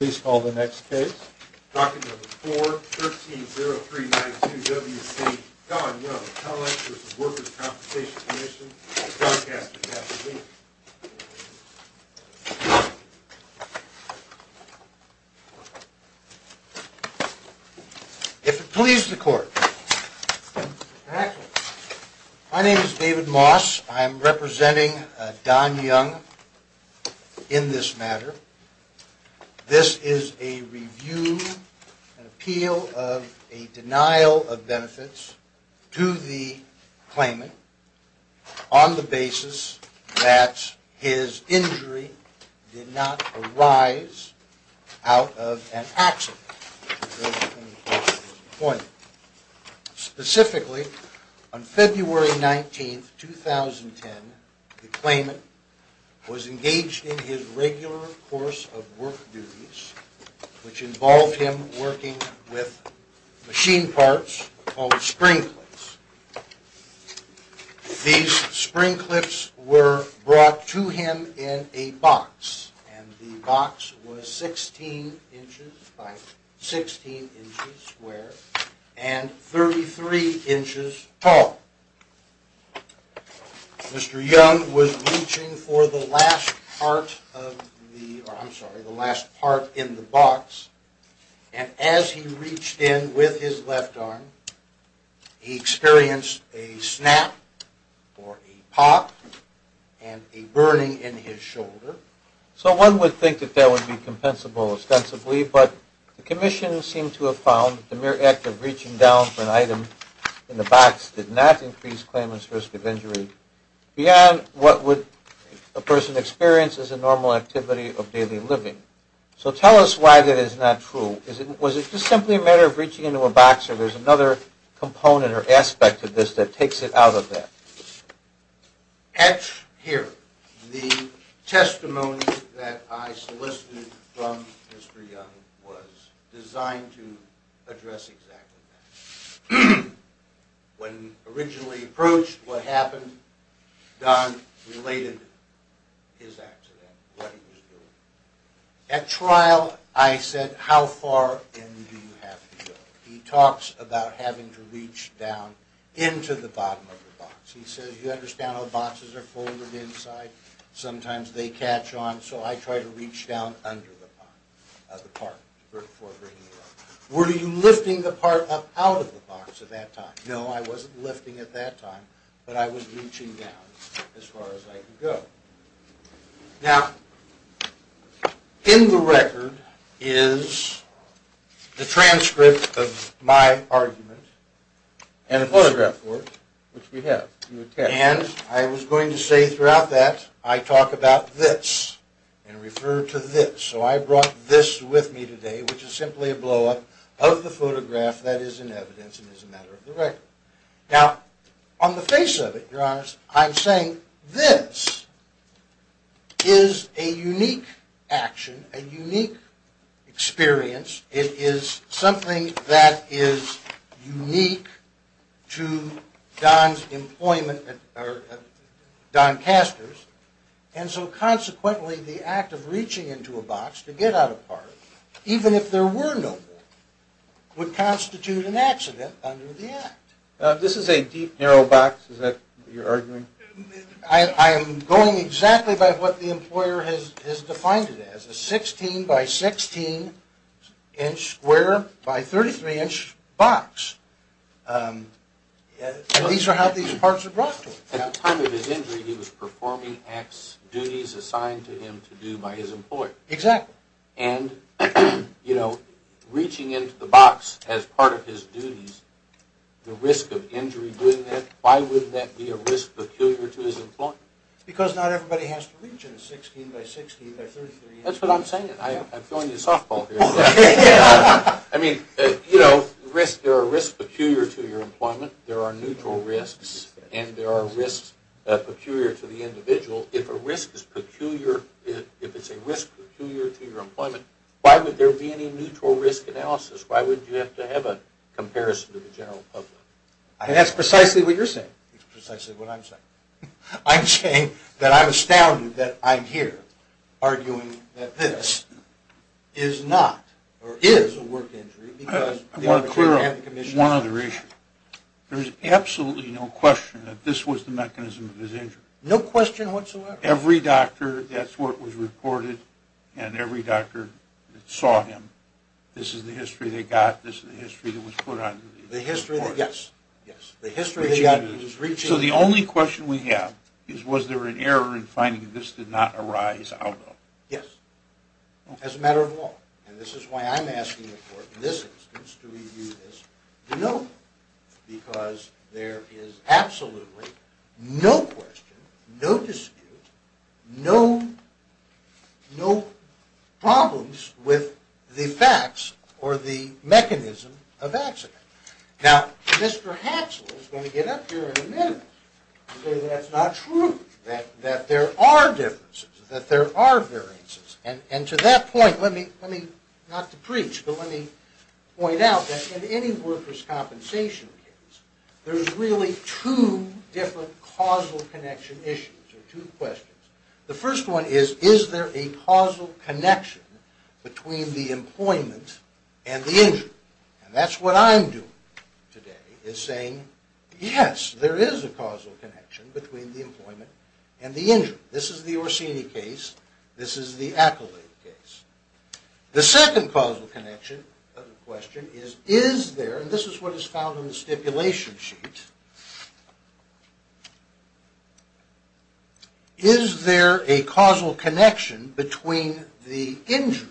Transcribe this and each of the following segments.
Please call the next case, document number 4-130392-WC, Don Young, College v. Workers' Compensation Commission, broadcast at half-a-week. If it pleases the court. My name is David Moss. I'm representing Don Young in this matter. This is a review, an appeal of a denial of benefits to the claimant on the basis that his injury did not arise out of an accident. Specifically, on February 19, 2010, the claimant was engaged in his regular course of work duties, which involved him working with machine parts called spring clips. These spring clips were brought to him in a box, and the box was 16 inches by 16 inches square and 33 inches tall. Mr. Young was reaching for the last part in the box, and as he reached in with his left arm, he experienced a snap or a pop and a burning in his shoulder. So one would think that that would be compensable ostensibly, but the commission seemed to have found the mere act of reaching down for an item in the box did not increase the claimant's risk of injury beyond what a person would experience as a normal activity of daily living. So tell us why that is not true. Was it just simply a matter of reaching into a box, or there's another component or aspect of this that takes it out of that? Here, the testimony that I solicited from Mr. Young was designed to address exactly that. When originally approached what happened, Don related his accident, what he was doing. At trial, I said, how far in do you have to go? He talks about having to reach down into the bottom of the box. He says, you understand how boxes are folded inside, sometimes they catch on, so I try to reach down under the part before bringing it up. Were you lifting the part up out of the box at that time? No, I wasn't lifting at that time, but I was reaching down as far as I could go. Now, in the record is the transcript of my argument, and a photograph for it, which we have. And I was going to say throughout that, I talk about this, and refer to this. So I brought this with me today, which is simply a blow-up of the photograph that is in evidence and is a matter of the record. Now, on the face of it, Your Honor, I'm saying this is a unique action, a unique experience. It is something that is unique to Don's employment, or Don Castor's. And so consequently, the act of reaching into a box to get out a part, even if there were no more, would constitute an accident under the act. This is a deep, narrow box, is that what you're arguing? I am going exactly by what the employer has defined it as, a 16 by 16 inch square by 33 inch box. And these are how these parts are brought to him. At the time of his injury, he was performing X duties assigned to him to do by his employer. Exactly. And, you know, reaching into the box as part of his duties, the risk of injury doing that, why would that be a risk peculiar to his employment? Because not everybody has to reach in a 16 by 16 by 33 inch box. That's what I'm saying. I'm throwing you a softball here. I mean, you know, there are risks peculiar to your employment. There are neutral risks, and there are risks peculiar to the individual. If a risk is peculiar, if it's a risk peculiar to your employment, why would there be any neutral risk analysis? Why would you have to have a comparison to the general public? That's precisely what you're saying. It's precisely what I'm saying. I'm saying that I'm astounded that I'm here arguing that this is not, or is, a work injury. I want to clear up one other issue. There is absolutely no question that this was the mechanism of his injury. No question whatsoever? Every doctor, that's what was reported, and every doctor that saw him, this is the history they got, this is the history that was put on him. Yes. So the only question we have is, was there an error in finding that this did not arise out of? Yes. As a matter of law. And this is why I'm asking the court in this instance to review this. Because there is absolutely no question, no dispute, no problems with the facts or the mechanism of accident. Now, Mr. Hatchell is going to get up here in a minute and say that's not true, that there are differences, that there are variances. And to that point, let me, not to preach, but let me point out that in any workers' compensation case, there's really two different causal connection issues, or two questions. The first one is, is there a causal connection between the employment and the injury? And that's what I'm doing today, is saying, yes, there is a causal connection between the employment and the injury. This is the Orsini case, this is the Accolade case. The second causal connection of the question is, is there, and this is what is found on the stipulation sheet, is there a causal connection between the injury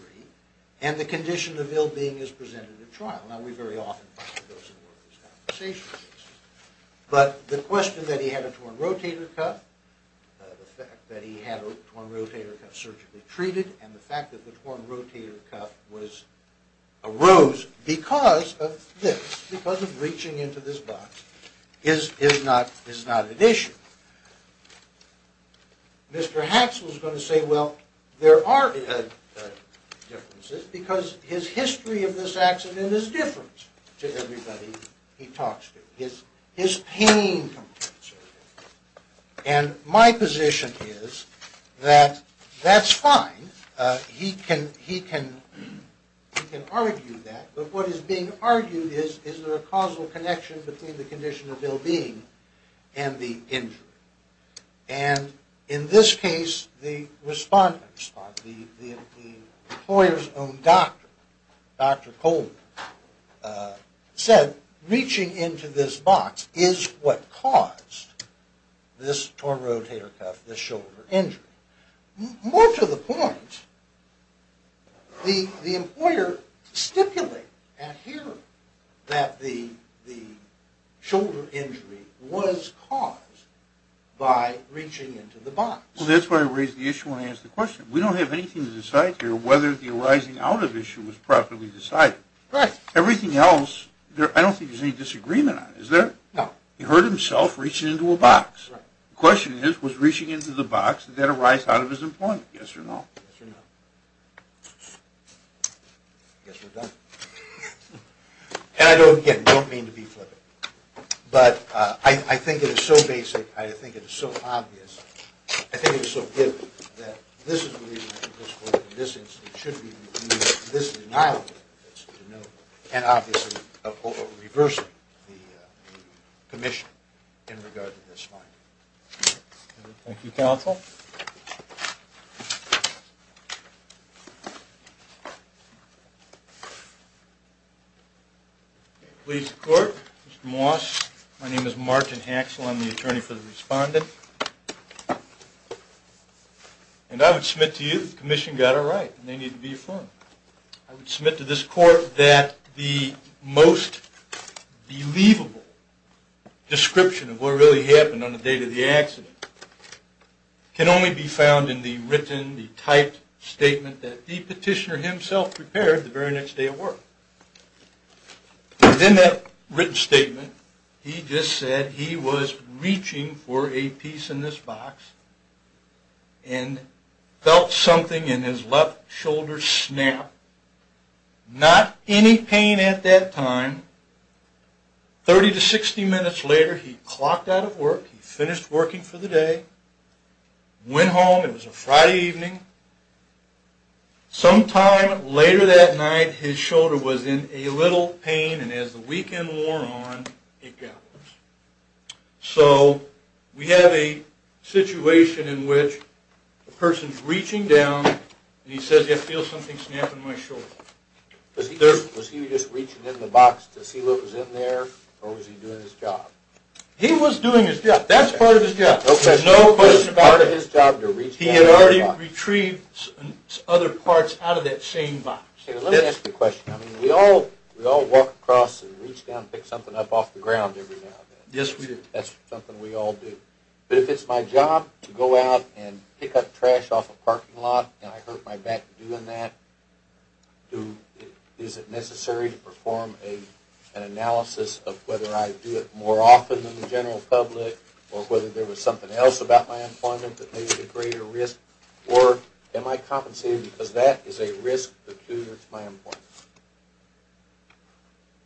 and the condition of ill-being as presented at trial? Now, we very often find those in workers' compensation cases. But the question that he had a torn rotator cuff, the fact that he had a torn rotator cuff surgically treated, and the fact that the torn rotator cuff arose because of this, because of reaching into this box, is not an issue. Mr. Haxel is going to say, well, there are differences, because his history of this accident is different to everybody he talks to. His pain, and my position is that that's fine. He can argue that. But what is being argued is, is there a causal connection between the condition of ill-being and the injury? And in this case, the employer's own doctor, Dr. Coleman, said, reaching into this box is what caused this torn rotator cuff, this shoulder injury. More to the point, the employer stipulated at hearing that the shoulder injury was caused by reaching into the box. Well, that's where I raised the issue when I asked the question. We don't have anything to decide here whether the arising out of issue was properly decided. Right. Everything else, I don't think there's any disagreement on it, is there? No. He hurt himself reaching into a box. Right. The question is, was reaching into the box, did that arise out of his employment, yes or no? Yes or no. I guess we're done. And I don't, again, don't mean to be flippant, but I think it is so basic, I think it is so obvious, I think it is so vivid, that this is the reason, in this instance, it should be reviewed. This is not a reason to know, and obviously, reversing the commission in regard to this finding. Thank you, counsel. Thank you, counsel. Police court, Mr. Moss, my name is Martin Haxel, I'm the attorney for the respondent. And I would submit to you that the commission got it right, and they need to be affirmed. I would submit to this court that the most believable description of what really happened on the date of the accident can only be found in the written, the typed statement that the petitioner himself prepared the very next day of work. Within that written statement, he just said he was reaching for a piece in this box and felt something in his left shoulder snap. Not any pain at that time. Thirty to sixty minutes later, he clocked out of work, he finished working for the day, went home, it was a Friday evening. Sometime later that night, his shoulder was in a little pain, and as the weekend wore on, it got worse. So, we have a situation in which a person's reaching down, and he says, I feel something snap in my shoulder. Was he just reaching in the box to see what was in there, or was he doing his job? He was doing his job. That's part of his job. Okay. He had already retrieved other parts out of that same box. Okay, let me ask you a question. We all walk across and reach down and pick something up off the ground every now and then. Yes, we do. That's something we all do. But if it's my job to go out and pick up trash off a parking lot, and I hurt my back doing that, is it necessary to perform an analysis of whether I do it more often than the general public, or whether there was something else about my employment that made it a greater risk, or am I compensated because that is a risk that's due to my employment?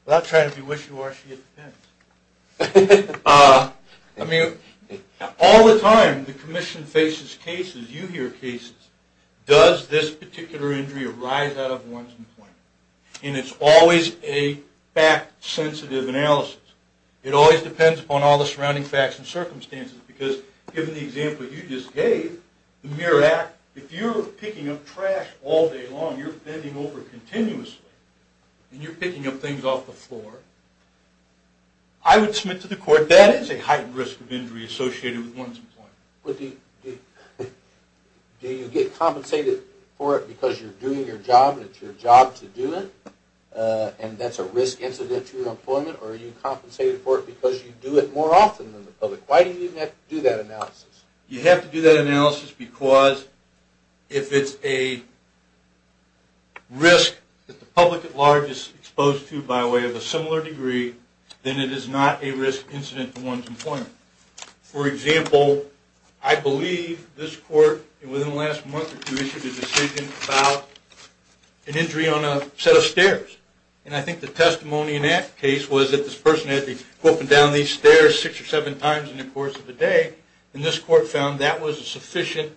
Well, I'll try to be wishy-washy. It depends. I mean, all the time the commission faces cases, you hear cases, does this particular injury arise out of one's employment? And it's always a fact-sensitive analysis. It always depends upon all the surrounding facts and circumstances, because given the example you just gave, the MIRRA Act, if you're picking up trash all day long, you're bending over continuously, and you're picking up things off the floor, I would submit to the court that is a heightened risk of injury associated with one's employment. But do you get compensated for it because you're doing your job and it's your job to do it, and that's a risk incident to your employment, or are you compensated for it because you do it more often than the public? Why do you even have to do that analysis? You have to do that analysis because if it's a risk that the public at large is exposed to by way of a similar degree, then it is not a risk incident to one's employment. For example, I believe this court, within the last month or two, issued a decision about an injury on a set of stairs. And I think the testimony in that case was that this person had to be walking down these stairs six or seven times in the course of the day, and this court found that was a sufficient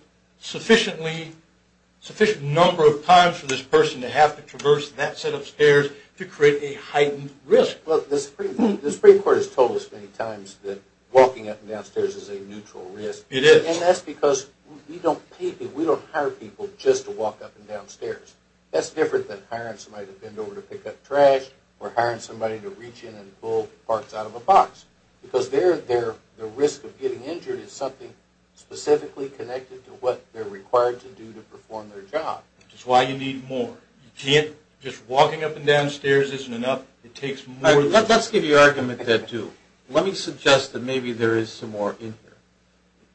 number of times for this person to have to traverse that set of stairs to create a heightened risk. Well, the Supreme Court has told us many times that walking up and down stairs is a neutral risk. It is. And that's because we don't pay people. We don't hire people just to walk up and down stairs. That's different than hiring somebody to bend over to pick up trash or hiring somebody to reach in and pull parts out of a box, because the risk of getting injured is something specifically connected to what they're required to do to perform their job. Which is why you need more. Just walking up and down stairs isn't enough. Let's give you argument that, too. Let me suggest that maybe there is some more in here.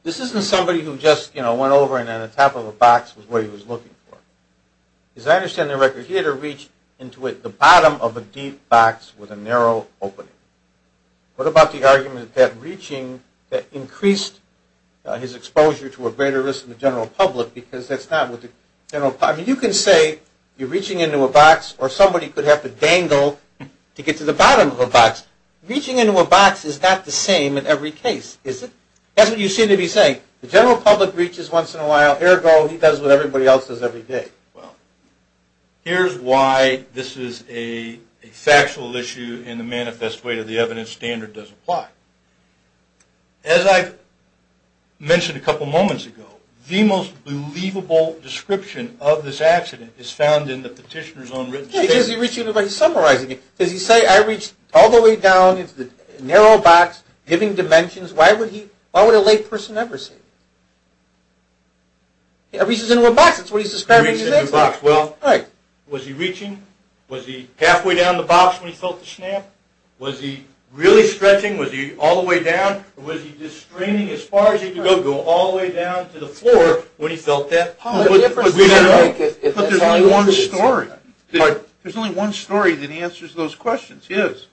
This isn't somebody who just, you know, went over and on the top of a box was what he was looking for. As I understand the record, he had to reach into the bottom of a deep box with a narrow opening. What about the argument that reaching increased his exposure to a greater risk in the general public, because that's not what the general public... I mean, you can say you're reaching into a box or somebody could have to dangle to get to the bottom of a box. Reaching into a box is not the same in every case, is it? That's what you seem to be saying. The general public reaches once in a while. Ergo, he does what everybody else does every day. Well, here's why this is a factual issue in the manifest way to the evidence standard does apply. As I mentioned a couple moments ago, the most believable description of this accident is found in the petitioner's own written statement. Yeah, because he's reaching, but he's summarizing it. Does he say, I reached all the way down into the narrow box, giving dimensions? Why would a lay person ever say that? He reaches into a box. That's what he's describing in his statement. He reaches into a box. Well, was he reaching? Was he halfway down the box when he felt the snap? Was he really stretching? Was he all the way down? Or was he just straining as far as he could go, go all the way down to the floor when he felt that pop? But there's only one story. There's only one story that answers those questions. There's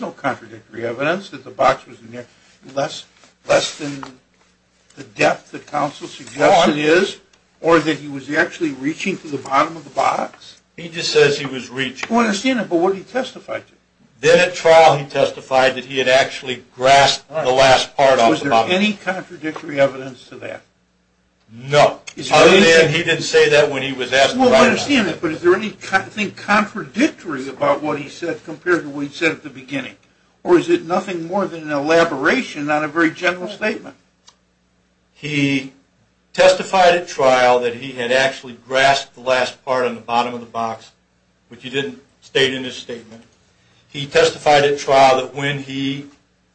no contradictory evidence that the box was in there less than the depth that counsel suggests it is, or that he was actually reaching to the bottom of the box. He just says he was reaching. I understand that, but what did he testify to? Then at trial, he testified that he had actually grasped the last part off the bottom. Was there any contradictory evidence to that? He didn't say that when he was asked about it. I understand that, but is there anything contradictory about what he said compared to what he said at the beginning? Or is it nothing more than an elaboration on a very general statement? He testified at trial that he had actually grasped the last part on the bottom of the box, which he didn't state in his statement. He testified at trial that when he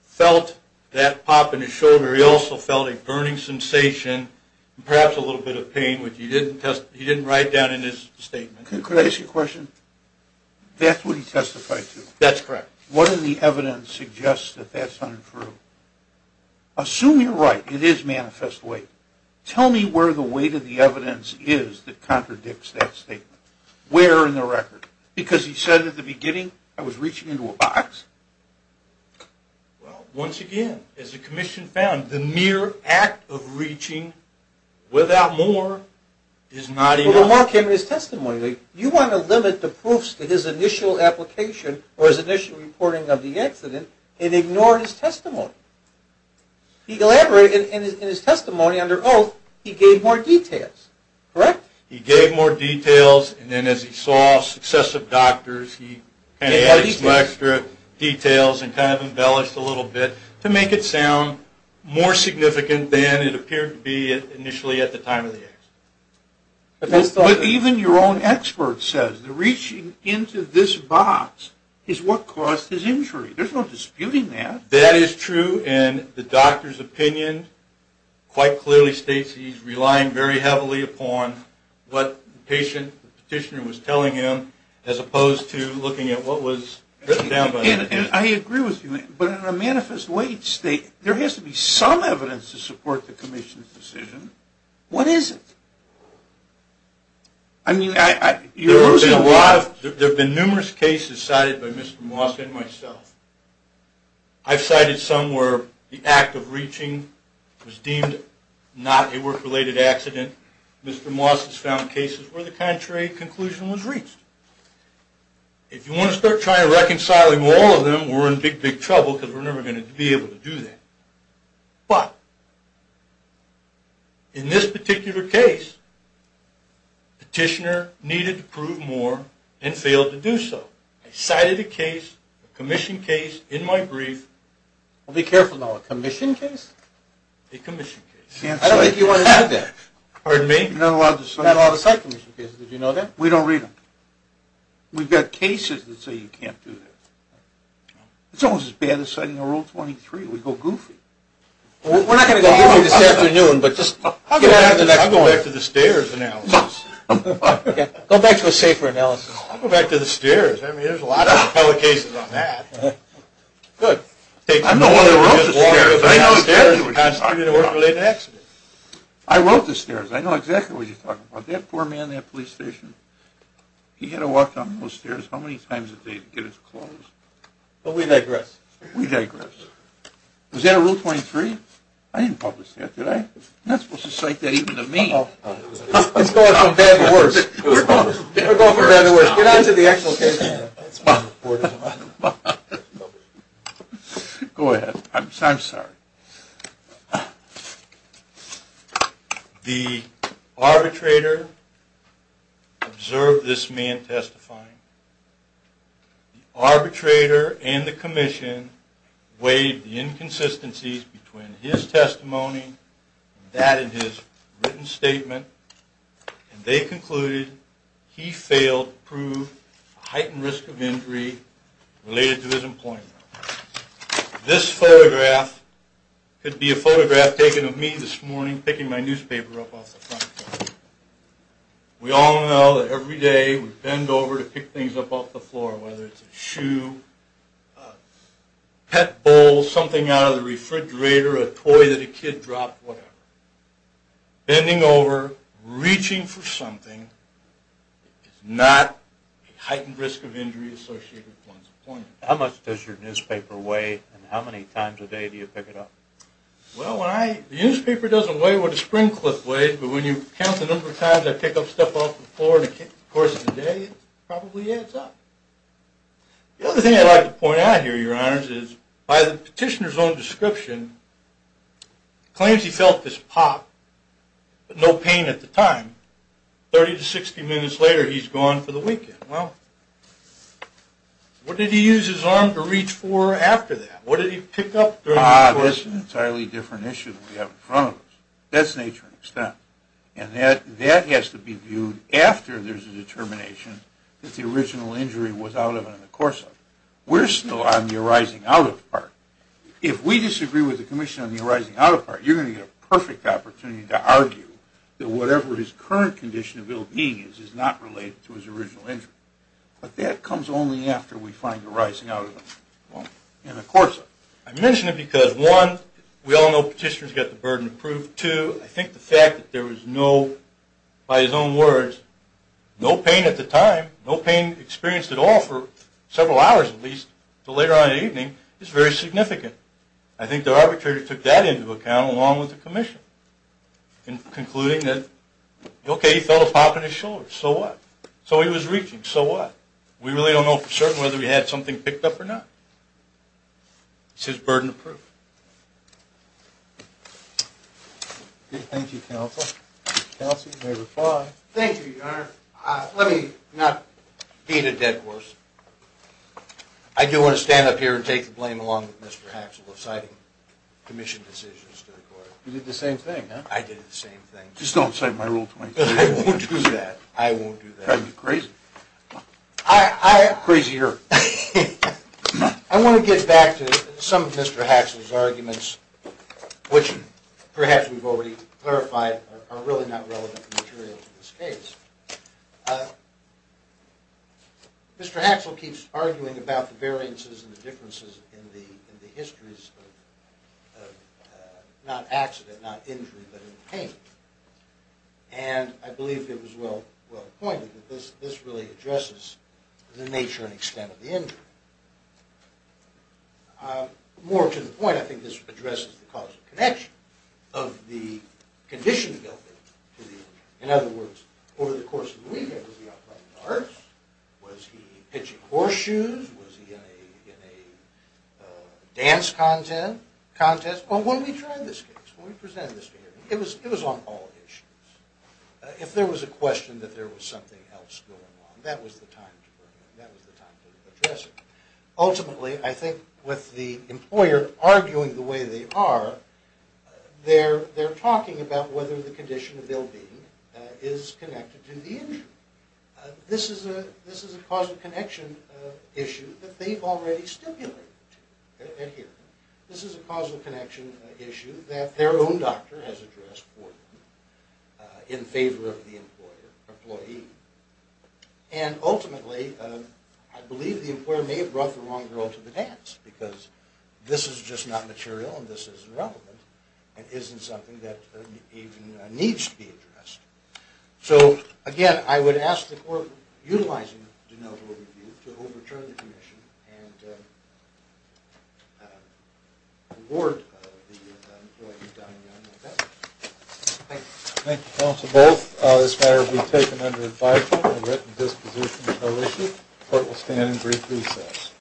felt that pop in his shoulder, he also felt a burning sensation and perhaps a little bit of pain, which he didn't write down in his statement. Could I ask you a question? That's what he testified to? That's correct. What did the evidence suggest that that's untrue? Assume you're right, it is manifest weight. Tell me where the weight of the evidence is that contradicts that statement. Where in the record? Because he said at the beginning, I was reaching into a box. Well, once again, as the commission found, the mere act of reaching without more is not enough. But the more came in his testimony. You want to limit the proofs to his initial application or his initial reporting of the accident and ignore his testimony. He elaborated in his testimony under oath, he gave more details, correct? He gave more details, and then as he saw successive doctors, he kind of added some extra details and kind of embellished a little bit to make it sound more significant than it appeared to be initially at the time of the accident. But even your own expert says that reaching into this box is what caused his injury. There's no disputing that. That is true, and the doctor's opinion quite clearly states he's relying very heavily upon what the patient, the petitioner was telling him as opposed to looking at what was written down by the petitioner. And I agree with you, but in a manifest weight state, there has to be some evidence to support the commission's decision. What is it? There have been numerous cases cited by Mr. Moss and myself. I've cited some where the act of reaching was deemed not a work-related accident. Mr. Moss has found cases where the contrary conclusion was reached. If you want to start trying to reconcile all of them, we're in big, big trouble because we're never going to be able to do that. But in this particular case, the petitioner needed to prove more and failed to do so. I cited a case, a commission case, in my brief. Be careful now, a commission case? A commission case. I don't think you want to know that. Pardon me? Not a lot of site commission cases, did you know that? We don't read them. We've got cases that say you can't do that. It's almost as bad as citing a Rule 23. We go goofy. We're not going to go goofy this afternoon, but just get on to the next one. I'll go back to the stairs analysis. Go back to a safer analysis. I'll go back to the stairs. I mean, there's a lot of appellate cases on that. Good. I wrote the stairs. I know exactly what you're talking about. I wrote the stairs. I know exactly what you're talking about. That poor man in that police station, he had to walk down those stairs how many times a day to get his clothes? But we digress. We digress. Was that a Rule 23? I didn't publish that, did I? You're not supposed to cite that even to me. It's going from bad to worse. We're going from bad to worse. Get on to the actual case. Go ahead. I'm sorry. The arbitrator observed this man testifying. The arbitrator and the commission weighed the inconsistencies between his testimony and that in his written statement, and they concluded he failed to prove a heightened risk of injury related to his employment. This photograph could be a photograph taken of me this morning picking my newspaper up off the front door. We all know that every day we bend over to pick things up off the floor, whether it's a shoe, a pet bowl, something out of the refrigerator, a toy that a kid dropped, whatever. Bending over, reaching for something is not a heightened risk of injury associated with one's employment. How much does your newspaper weigh and how many times a day do you pick it up? Well, the newspaper doesn't weigh what a spring clip weighs, but when you count the number of times I pick up stuff off the floor in the course of the day, it probably adds up. The other thing I'd like to point out here, Your Honors, is by the petitioner's own description, it claims he felt this pop, but no pain at the time. Thirty to sixty minutes later, he's gone for the weekend. Well, what did he use his arm to reach for after that? What did he pick up during the course of the weekend? Ah, that's an entirely different issue than we have in front of us. That's nature and extent. And that has to be viewed after there's a determination that the original injury was out of and in the course of. We're still on the arising out of part. If we disagree with the commission on the arising out of part, you're going to get a perfect opportunity to argue that whatever his current condition of ill being is, is not related to his original injury. But that comes only after we find the arising out of him in the course of. I mention it because, one, we all know petitioners get the burden of proof. Two, I think the fact that there was no, by his own words, no pain at the time, no pain experienced at all for several hours at least until later on in the evening is very significant. I think the arbitrator took that into account along with the commission in concluding that, okay, he felt a pop in his shoulder. So what? So he was reaching. So what? We really don't know for certain whether he had something picked up or not. It's his burden of proof. Thank you, Counsel. Counsel, you may reply. Thank you, Your Honor. Let me not beat a dead horse. I do want to stand up here and take the blame along with Mr. Haxel of citing commission decisions to the court. You did the same thing, huh? I did the same thing. Just don't cite my rule 23. I won't do that. I won't do that. You're crazy. Crazier. I want to get back to some of Mr. Haxel's arguments, which perhaps we've already clarified are really not relevant material to this case. Mr. Haxel keeps arguing about the variances and the differences in the histories of not accident, not injury, but in pain. And I believe it was well pointed that this really addresses the nature and extent of the injury. More to the point, I think this addresses the causal connection of the condition of the illness. In other words, over the course of the weekend, was he out playing darts? Was he pitching horseshoes? Was he in a dance contest? Well, when we tried this case, when we presented this case, it was on all issues. If there was a question that there was something else going on, that was the time to bring it in. That was the time to address it. Ultimately, I think with the employer arguing the way they are, they're talking about whether the condition of ill-being is connected to the injury. This is a causal connection issue that they've already stipulated here. This is a causal connection issue that their own doctor has addressed for them in favor of the employee. And ultimately, I believe the employer may have brought the wrong girl to the dance because this is just not material and this isn't relevant and isn't something that even needs to be addressed. So again, I would ask the court, utilizing denial of overview, to overturn the condition and reward the employee, Don Young, with that. Thank you, counsel, both. This matter will be taken under advisement. The written disposition is no issue. Court will stand in brief recess.